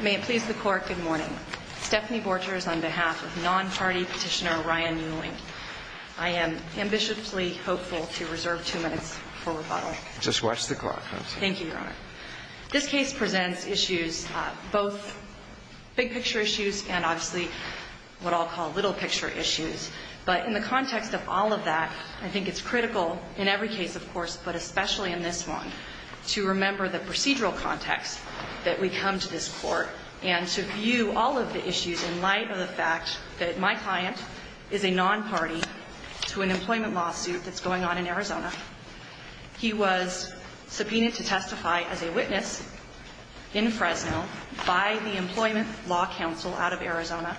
May it please the court, good morning. Stephanie Borchers on behalf of non-party petitioner Ryan Uehling. I am ambitiously hopeful to reserve two minutes for rebuttal. Just watch the clock. Thank you, your honor. This case presents issues, both big picture issues and obviously what I'll call little picture issues. But in the context of all of that, I think it's critical in every case, of course, but especially in this one, to remember the procedural context that we come to this court and to view all of the issues in light of the fact that my client is a non-party to an employment lawsuit that's going on in Arizona. He was subpoenaed to testify as a witness in Fresno by the Employment Law Council out of Arizona.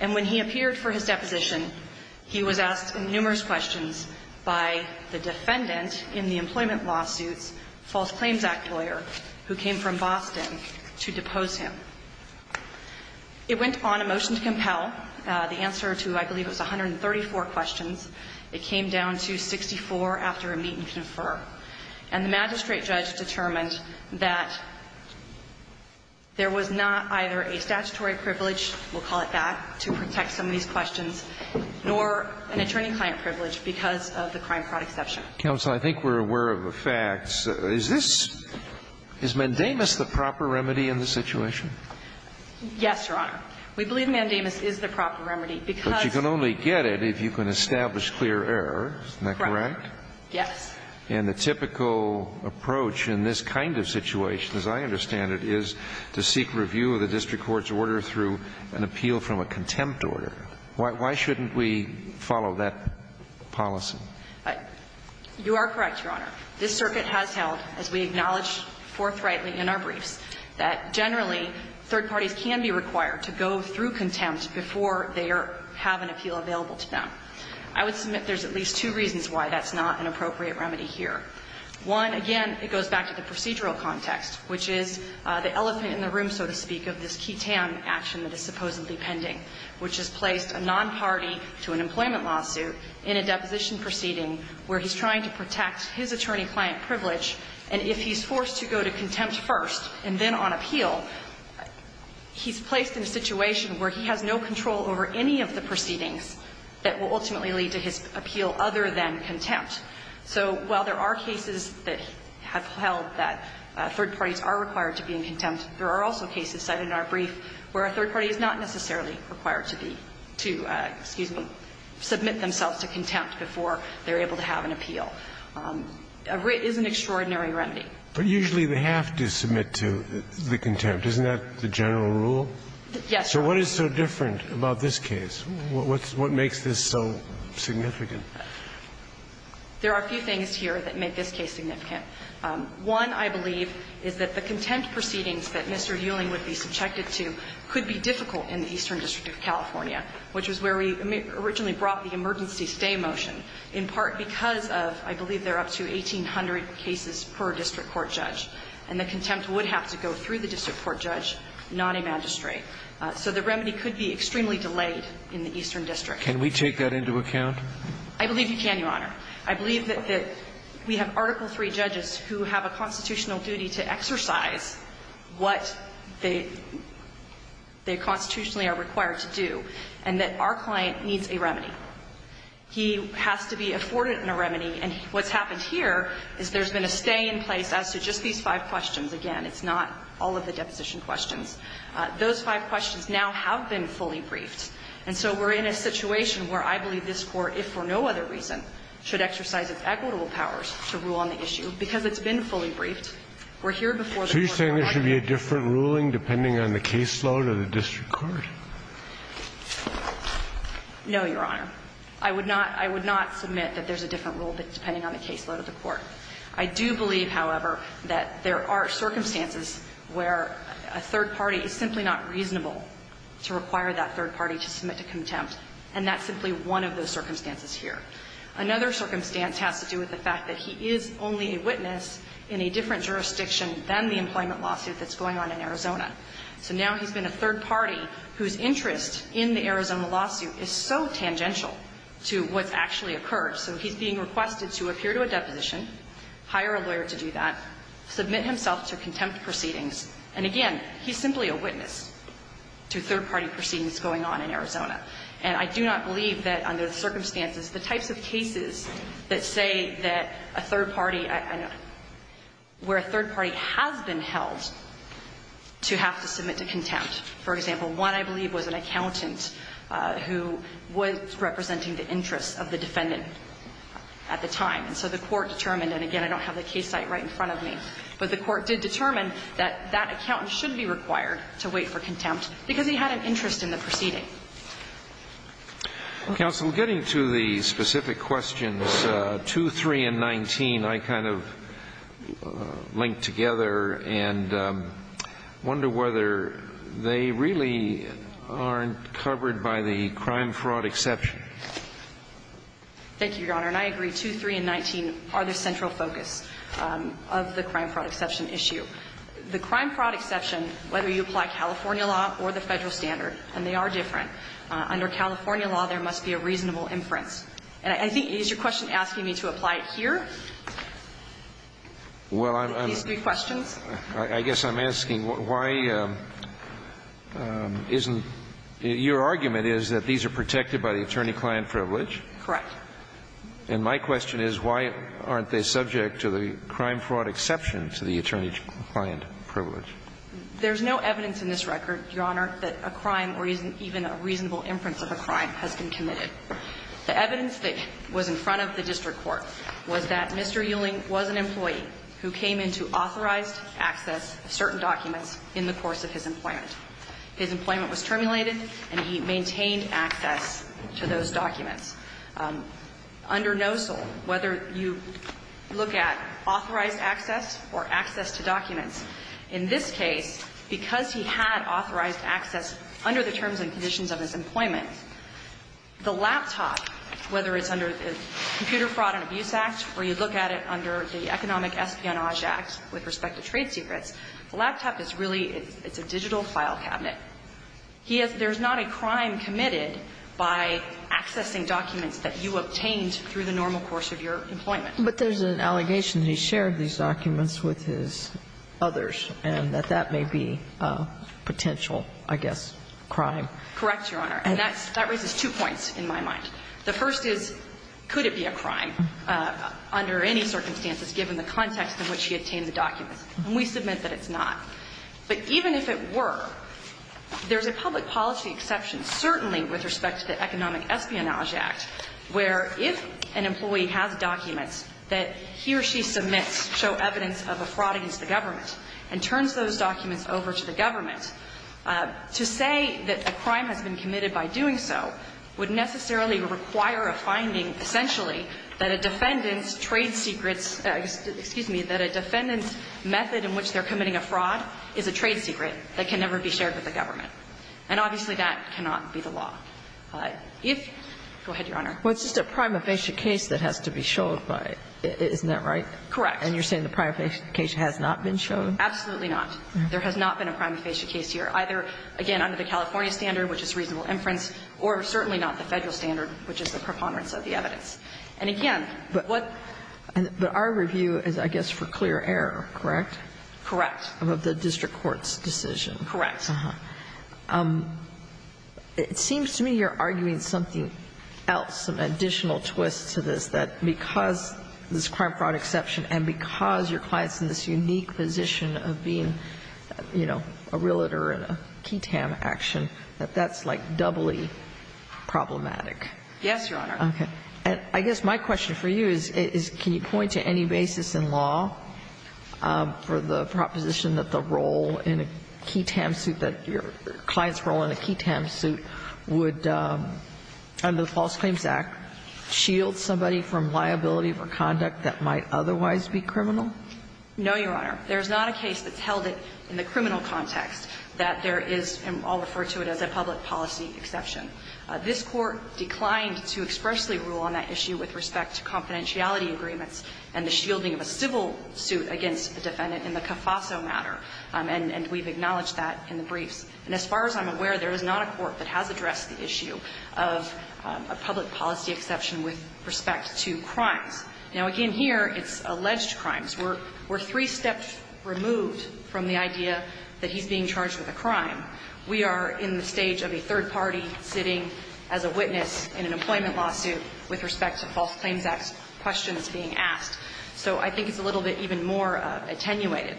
And when he appeared for his deposition, he was asked numerous questions by the defendant in the employment lawsuits, false claims act lawyer, who came from Boston to depose him. It went on a motion to compel. The answer to, I believe, was 134 questions. It came down to 64 after a meet and confer. And the magistrate judge determined that there was not either a statutory privilege, we'll call it that, to protect some of these questions, nor an attorney-client privilege because of the crime fraud exception. Counsel, I think we're aware of the facts. Is this, is mandamus the proper remedy in this situation? Yes, Your Honor. We believe mandamus is the proper remedy because But you can only get it if you can establish clear error. Isn't that correct? Yes. And the typical approach in this kind of situation, as I understand it, is to seek review of the district court's order through an appeal from a contempt order. Why shouldn't we follow that policy? You are correct, Your Honor. This circuit has held, as we acknowledged forthrightly in our briefs, that generally, third parties can be required to go through contempt before they have an appeal available to them. I would submit there's at least two reasons why that's not an appropriate remedy here. One, again, it goes back to the procedural context, which is the elephant in the room, so to speak, of this qui tam action that is supposedly pending, which has placed a non-party to an employment lawsuit in a deposition proceeding where he's trying to protect his attorney-client privilege. And if he's forced to go to contempt first and then on appeal, he's placed in a situation where he has no control over any of the proceedings that will ultimately lead to his appeal other than contempt. So while there are cases that have held that third parties are required to be in contempt, there are also cases cited in our brief where a third party is not necessarily required to be to, excuse me, submit themselves to contempt before they're able to have an appeal. It is an extraordinary remedy. But usually they have to submit to the contempt. Isn't that the general rule? Yes, sir. So what is so different about this case? What makes this so significant? There are a few things here that make this case significant. One, I believe, is that the contempt proceedings that Mr. Ewing would be subjected to could be difficult in the Eastern District of California, which was where we originally brought the emergency stay motion, in part because of, I believe, they're up to 1,800 cases per district court judge. And the contempt would have to go through the district court judge, not a magistrate. So the remedy could be extremely delayed in the Eastern District. Can we take that into account? I believe you can, Your Honor. I believe that we have Article III judges who have a constitutional duty to exercise what they constitutionally are required to do, and that our client needs a remedy. He has to be afforded a remedy. And what's happened here is there's been a stay in place as to just these five questions. Again, it's not all of the deposition questions. Those five questions now have been fully briefed. And so we're in a situation where I believe this Court, if for no other reason, should exercise its equitable powers to rule on the issue. Because it's been fully briefed, we're here before the court. So you're saying there should be a different ruling depending on the caseload of the district court? No, Your Honor. I would not – I would not submit that there's a different rule depending on the caseload of the court. I do believe, however, that there are circumstances where a third party is simply not reasonable to require that third party to submit to contempt, and that's simply one of those circumstances here. Another circumstance has to do with the fact that he is only a witness in a different jurisdiction than the employment lawsuit that's going on in Arizona. So now he's been a third party whose interest in the Arizona lawsuit is so tangential to what's actually occurred. So he's being requested to appear to a deposition, hire a lawyer to do that, submit himself to contempt proceedings. And again, he's simply a witness to third party proceedings going on in Arizona. And I do not believe that under the circumstances, the types of cases that say that a third party – where a third party has been held to have to submit to contempt. For example, one, I believe, was an accountant who was representing the interests of the defendant at the time. And so the court determined – and again, I don't have the case site right in front of me – but the court did determine that that accountant should be required to wait for contempt because he had an interest in the proceeding. Counsel, getting to the specific questions, 2, 3, and 19, I kind of linked together and wonder whether they really aren't covered by the crime-fraud exception. Thank you, Your Honor, and I agree, 2, 3, and 19 are the central focus of the crime-fraud exception issue. The crime-fraud exception, whether you apply California law or the Federal standard and they are different, under California law, there must be a reasonable inference. And I think – is your question asking me to apply it here, with these three questions? I guess I'm asking why isn't – your argument is that these are protected by the attorney-client privilege. Correct. And my question is why aren't they subject to the crime-fraud exception to the attorney-client privilege? There's no evidence in this record, Your Honor, that a crime or even a reasonable inference of a crime has been committed. The evidence that was in front of the district court was that Mr. Ewing was an employee who came into authorized access of certain documents in the course of his employment. His employment was terminated and he maintained access to those documents. Under NOSOL, whether you look at authorized access or access to documents, in this case, because he had authorized access under the terms and conditions of his employment, the laptop, whether it's under the Computer Fraud and Abuse Act or you look at it under the Economic Espionage Act with respect to trade secrets, the laptop is really a digital file cabinet. There's not a crime committed by accessing documents that you obtained through the normal course of your employment. But there's an allegation that he shared these documents with his others and that that may be potential, I guess, crime. Correct, Your Honor. And that raises two points in my mind. The first is, could it be a crime under any circumstances given the context in which he obtained the documents? And we submit that it's not. But even if it were, there's a public policy exception, certainly with respect to the Economic Espionage Act, where if an employee has documents that he or she submits show evidence of a fraud against the government and turns those documents over to the government, to say that a crime has been committed by doing so would necessarily require a finding, essentially, that a defendant's trade secrets – excuse me, that a defendant's method in which they're committing a fraud is a fraud. If – go ahead, Your Honor. Well, it's just a prima facie case that has to be showed by – isn't that right? Correct. And you're saying the prima facie case has not been shown? Absolutely not. There has not been a prima facie case here, either, again, under the California standard, which is reasonable inference, or certainly not the Federal standard, which is the preponderance of the evidence. And again, what – But our review is, I guess, for clear error, correct? Correct. Of the district court's decision. Correct. It seems to me you're arguing something else, some additional twist to this, that because this crime fraud exception and because your client's in this unique position of being, you know, a realtor in a KETAM action, that that's, like, doubly problematic. Yes, Your Honor. Okay. And I guess my question for you is, can you point to any basis in law for the KETAM suit that your client's role in a KETAM suit would, under the False Claims Act, shield somebody from liability for conduct that might otherwise be criminal? No, Your Honor. There's not a case that's held it in the criminal context that there is – and I'll refer to it as a public policy exception. This Court declined to expressly rule on that issue with respect to confidentiality agreements and the shielding of a civil suit against a defendant in the CAFASO matter, and we've acknowledged that in the briefs. And as far as I'm aware, there is not a court that has addressed the issue of a public policy exception with respect to crimes. Now, again, here it's alleged crimes. We're three steps removed from the idea that he's being charged with a crime. We are in the stage of a third party sitting as a witness in an employment lawsuit with respect to False Claims Act questions being asked. So I think it's a little bit even more attenuated.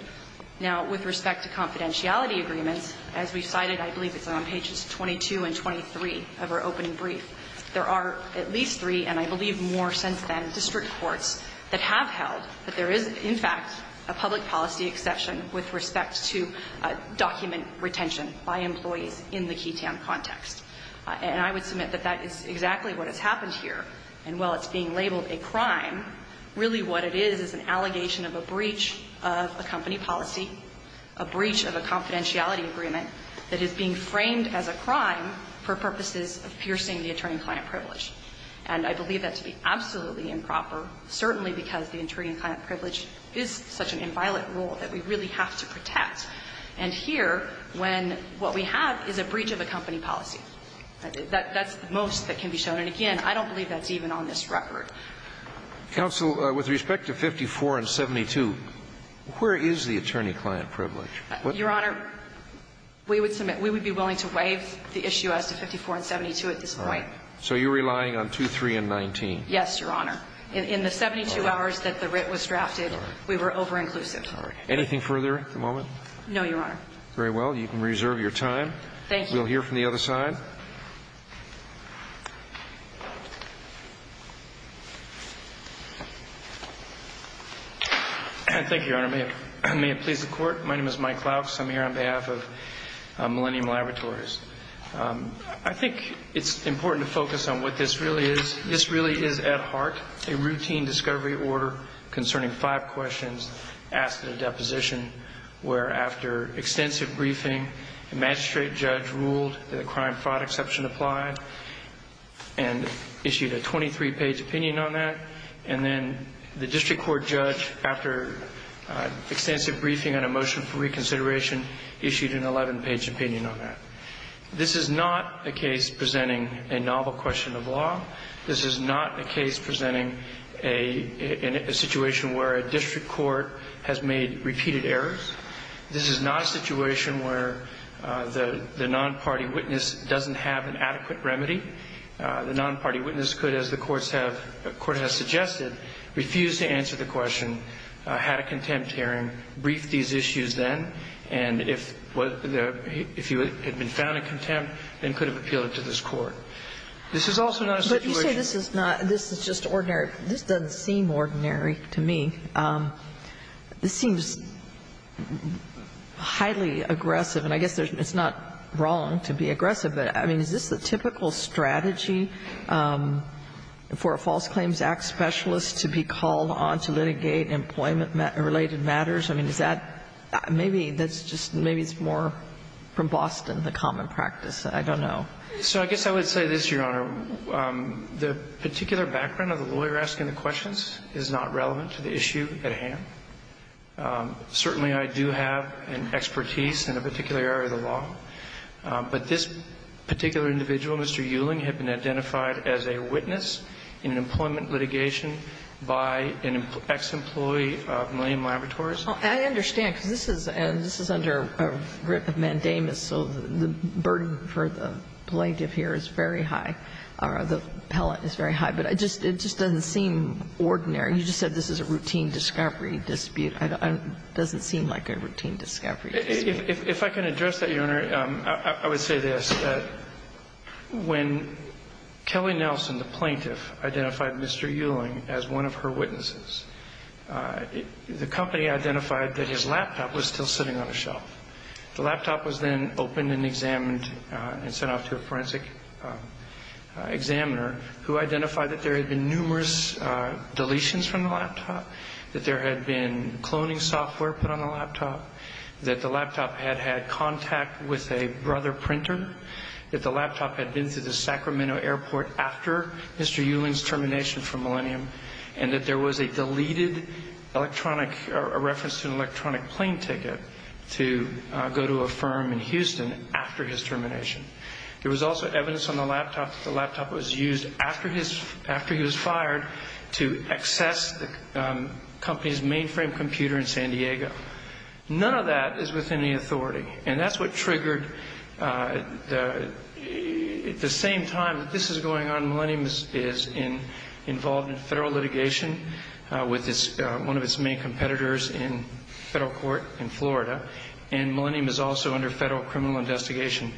Now, with respect to confidentiality agreements, as we cited, I believe it's on pages 22 and 23 of our opening brief, there are at least three, and I believe more since then, district courts that have held that there is, in fact, a public policy exception with respect to document retention by employees in the Keytown context. And I would submit that that is exactly what has happened here. And while it's being labeled a crime, really what it is is an allegation of a breach of a company policy, a breach of a confidentiality agreement that is being framed as a crime for purposes of piercing the attorney-client privilege. And I believe that to be absolutely improper, certainly because the attorney-client privilege is such an inviolate rule that we really have to protect. And here, when what we have is a breach of a company policy, that's the most that can be shown, and again, I don't believe that's even on this record. Counsel, with respect to 54 and 72, where is the attorney-client privilege? Your Honor, we would submit, we would be willing to waive the issue as to 54 and 72 at this point. So you're relying on 2, 3, and 19? Yes, Your Honor. In the 72 hours that the writ was drafted, we were over-inclusive. Anything further at the moment? No, Your Honor. Very well. You can reserve your time. Thank you. We'll hear from the other side. Thank you, Your Honor. May it please the Court. My name is Mike Clowkes. I'm here on behalf of Millennium Laboratories. I think it's important to focus on what this really is. This really is, at heart, a routine discovery order concerning five questions asked at a deposition, where, after extensive briefing, the magistrate judge ruled that a crime fraud exception applied and issued a 23-page opinion on that, and then the district court judge, after extensive briefing and a motion for reconsideration, issued an 11-page opinion on that. This is not a case presenting a novel question of law. This is not a case presenting a situation where a district court has made repeated errors. This is not a situation where the non-party witness doesn't have an adequate remedy. The non-party witness could, as the courts have or the Court has suggested, refuse to answer the question, had a contempt hearing, brief these issues then, and if you had been found in contempt, then could have appealed it to this Court. This is also not a situation that's used to be used as an excuse to say, you know, this is just ordinary. This doesn't seem ordinary to me. This seems highly aggressive, and I guess it's not wrong to be aggressive, but, I mean, is this the typical strategy for a False Claims Act specialist to be called on to litigate employment-related matters? I mean, is that, maybe that's just, maybe it's more from Boston, the common practice. I don't know. So I guess I would say this, Your Honor. The particular background of the lawyer asking the questions is not relevant to the issue at hand. Certainly, I do have an expertise in a particular area of the law, but this is not relevant to the issue at hand. And I don't think that the particular individual, Mr. Euling, had been identified as a witness in an employment litigation by an ex-employee of Millium Laboratories. I understand, because this is under a writ of mandamus, so the burden for the plaintiff here is very high, or the pellet is very high, but it just doesn't seem ordinary. You just said this is a routine discovery dispute. It doesn't seem like a routine discovery dispute. If I can address that, Your Honor, I would say this. When Kelly Nelson, the plaintiff, identified Mr. Euling as one of her witnesses, the company identified that his laptop was still sitting on a shelf. The laptop was then opened and examined and sent off to a forensic examiner who identified that there had been numerous deletions from the laptop, that there had been cloning software put on the laptop, that the laptop had had contact with a brother printer, that the laptop had been to the Sacramento airport after Mr. Euling's termination from Millium, and that there was a deleted electronic reference to an electronic plane ticket to go to a firm in Houston after his termination. There was also evidence on the laptop that the laptop was used after he was fired to access the company's mainframe computer in San Diego. None of that is within the authority. And that's what triggered, at the same time that this is going on, Millium is involved in federal litigation with one of its main competitors in federal court in Florida. And Millium is also under federal criminal investigation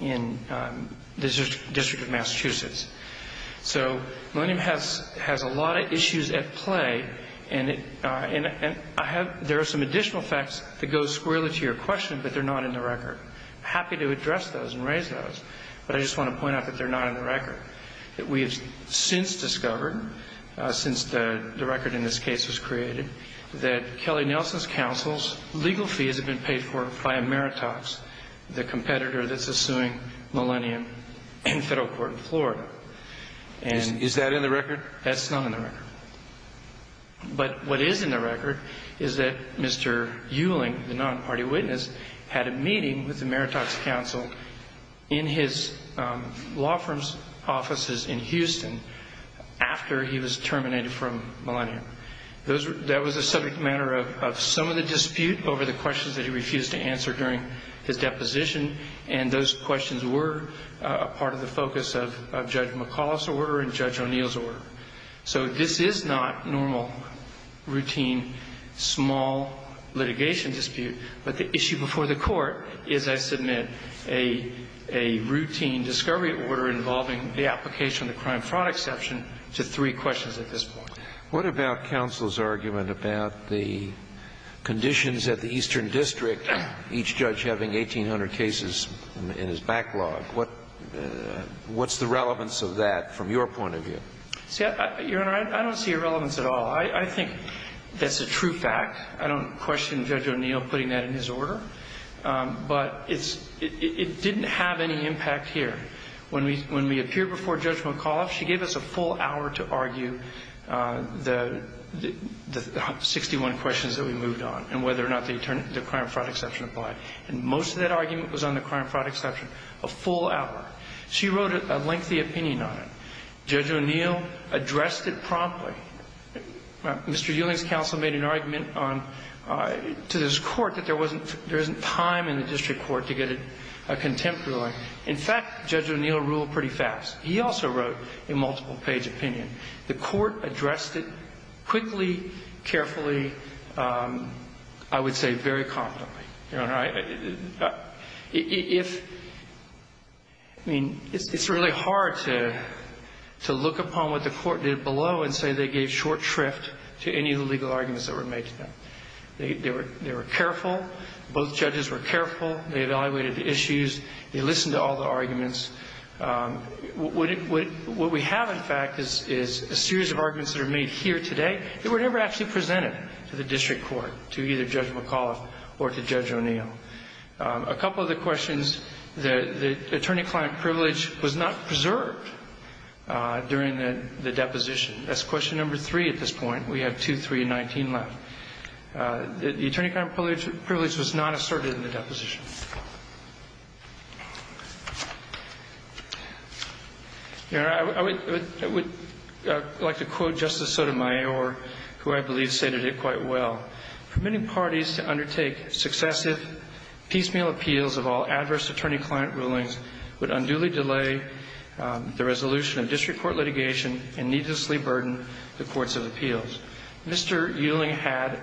in the District of Massachusetts. So Millium has a lot of issues at play. And there are some additional facts that go squarely to your question, but they're not in the record. Happy to address those and raise those, but I just want to point out that they're not in the record. That we have since discovered, since the record in this case was created, that Kelly Nelson's counsel's legal fees have been paid for by Ameritox, the competitor that's suing Millium in federal court in Florida. And is that in the record? That's not in the record. But what is in the record is that Mr. Euling, the non-party witness, had a meeting with the Ameritox counsel in his law firm's offices in Houston after he was terminated from Millium. And he had a number of questions that he refused to answer during his deposition. And those questions were part of the focus of Judge McAuliffe's order and Judge O'Neill's order. So this is not normal, routine, small litigation dispute. But the issue before the court is I submit a routine discovery order involving the application of the crime fraud exception to three questions at this point. What about counsel's argument about the conditions at the Eastern District, each judge having 1,800 cases in his backlog? What's the relevance of that from your point of view? See, Your Honor, I don't see a relevance at all. I think that's a true fact. I don't question Judge O'Neill putting that in his order. But it didn't have any impact here. When we appeared before Judge McAuliffe, she gave us a full hour to argue the 61 questions that we moved on and whether or not the crime fraud exception applied. And most of that argument was on the crime fraud exception, a full hour. She wrote a lengthy opinion on it. Judge O'Neill addressed it promptly. Mr. Ewing's counsel made an argument to this court that there wasn't time in the district court to get a contempt ruling. In fact, Judge O'Neill ruled pretty fast. He also wrote a multiple page opinion. The court addressed it quickly, carefully, I would say very confidently. Your Honor, if, I mean, it's really hard to look upon what the court did below and say they gave short shrift to any of the legal arguments that were made to them. They were careful. Both judges were careful. They evaluated the issues. They listened to all the arguments. What we have, in fact, is a series of arguments that are made here today that were never actually presented to the district court, to either Judge McAuliffe or to Judge O'Neill. A couple of the questions, the attorney-client privilege was not preserved during the deposition. That's question number three at this point. We have two, three, and 19 left. Your Honor, I would like to quote Justice Sotomayor, who I believe stated it quite well. For many parties to undertake successive piecemeal appeals of all adverse attorney-client rulings would unduly delay the resolution of district court litigation and needlessly burden the courts of appeals. Mr. Ewing had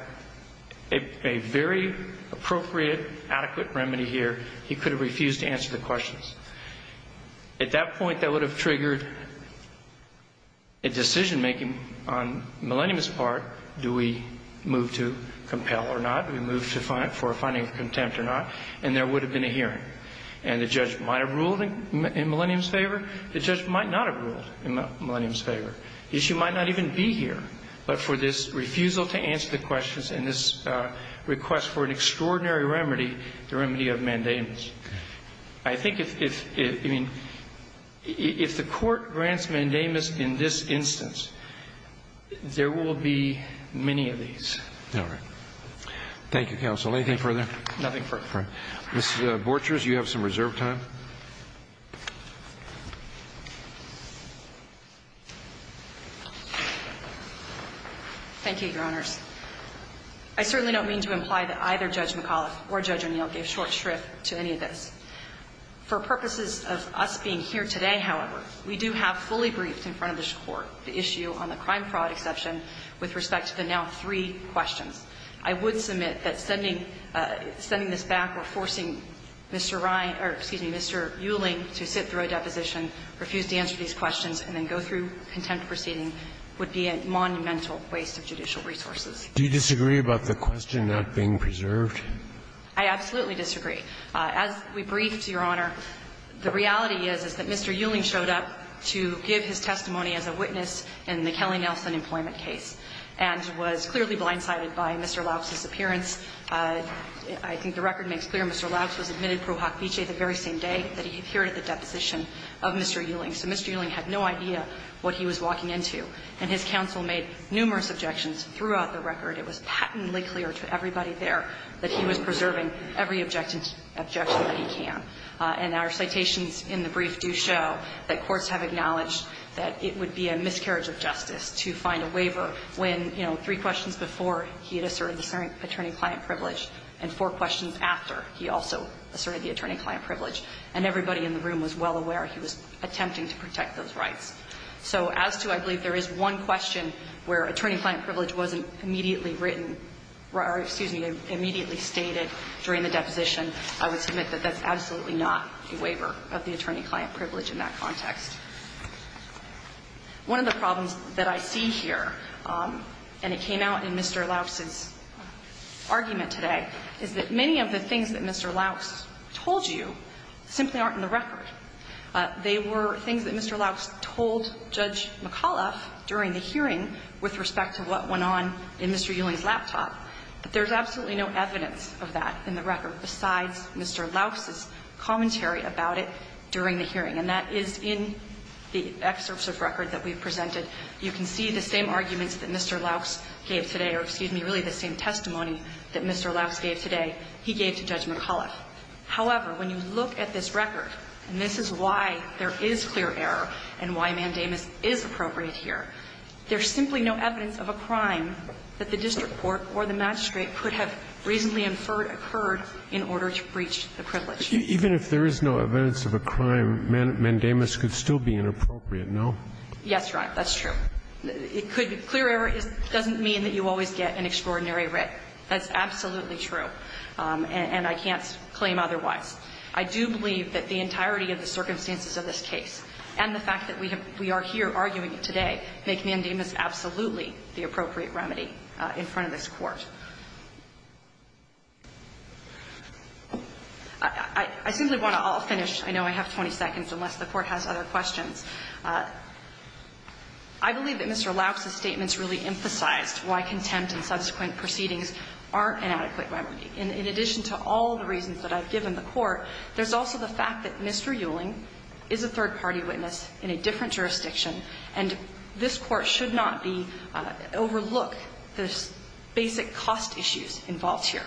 a very appropriate, adequate remedy here. He could have refused to answer the questions. At that point, that would have triggered a decision-making on Millennium's part, do we move to compel or not? Do we move for a finding of contempt or not? And there would have been a hearing. And the judge might have ruled in Millennium's favor. The judge might not have ruled in Millennium's favor. The issue might not even be here, but for this refusal to answer the questions and this request for an extraordinary remedy, the remedy of mandamus. I think if the court grants mandamus in this instance, there will be many of these. All right. Thank you, counsel. Anything further? Nothing further. Mr. Borchers, you have some reserve time. Thank you, Your Honors. I certainly don't mean to imply that either Judge McAuliffe or Judge O'Neill gave short shrift to any of this. For purposes of us being here today, however, we do have fully briefed in front of this court the issue on the crime fraud exception with respect to the now three questions. I would submit that sending this back or forcing Mr. Ryan or, excuse me, Mr. Euling to sit through a deposition, refuse to answer these questions, and then go through contempt proceeding would be a monumental waste of judicial resources. Do you disagree about the question not being preserved? I absolutely disagree. As we briefed, Your Honor, the reality is, is that Mr. Euling showed up to give his testimony as a witness in the Kelly-Nelson employment case and was clearly blindsided by Mr. Lauz's appearance. I think the record makes clear Mr. Lauz was admitted pro hoc vicee the very same day that he appeared at the deposition of Mr. Euling. So Mr. Euling had no idea what he was walking into. And his counsel made numerous objections throughout the record. It was patently clear to everybody there that he was preserving every objection that he can. And our citations in the brief do show that courts have acknowledged that it would be a miscarriage of justice to find a waiver when, you know, three questions before he had asserted the attorney-client privilege and four questions after he also asserted the attorney-client privilege. And everybody in the room was well aware he was attempting to protect those rights. So as to, I believe there is one question where attorney-client privilege wasn't immediately written or, excuse me, immediately stated during the deposition, I would submit that that's absolutely not a waiver of the attorney-client privilege in that context. One of the problems that I see here, and it came out in Mr. Lauz's argument today, is that many of the things that Mr. Lauz told you simply aren't in the record. They were things that Mr. Lauz told Judge McAuliffe during the hearing with respect to what went on in Mr. Euling's laptop. But there's absolutely no evidence of that in the record besides Mr. Lauz's commentary about it during the hearing, and that is in the excerpts of record that we've presented. You can see the same arguments that Mr. Lauz gave today, or, excuse me, really the same testimony that Mr. Lauz gave today he gave to Judge McAuliffe. However, when you look at this record, and this is why there is clear error and why mandamus is appropriate here, there's simply no evidence of a crime that the district court or the magistrate could have reasonably inferred occurred in order to breach the privilege. Even if there is no evidence of a crime, mandamus could still be inappropriate, no? Yes, Your Honor. That's true. It could be clear error doesn't mean that you always get an extraordinary writ. That's absolutely true, and I can't claim otherwise. I do believe that the entirety of the circumstances of this case and the fact that we are here arguing it today make mandamus absolutely the appropriate remedy in front of this Court. I simply want to all finish. I know I have 20 seconds, unless the Court has other questions. I believe that Mr. Lauz's statements really emphasized why contempt and subsequent proceedings aren't an adequate remedy. In addition to all the reasons that I've given the Court, there's also the fact that Mr. Euling is a third-party witness in a different jurisdiction, and this Court should not be – overlook the basic cost issues involved here.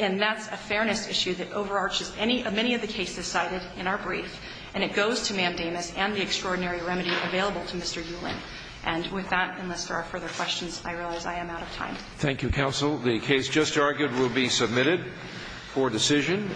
And that's a fairness issue that overarches any – many of the cases cited in our brief, and it goes to mandamus and the extraordinary remedy available to Mr. Euling. And with that, unless there are further questions, I realize I am out of time. Thank you, counsel. The case just argued will be submitted for decision.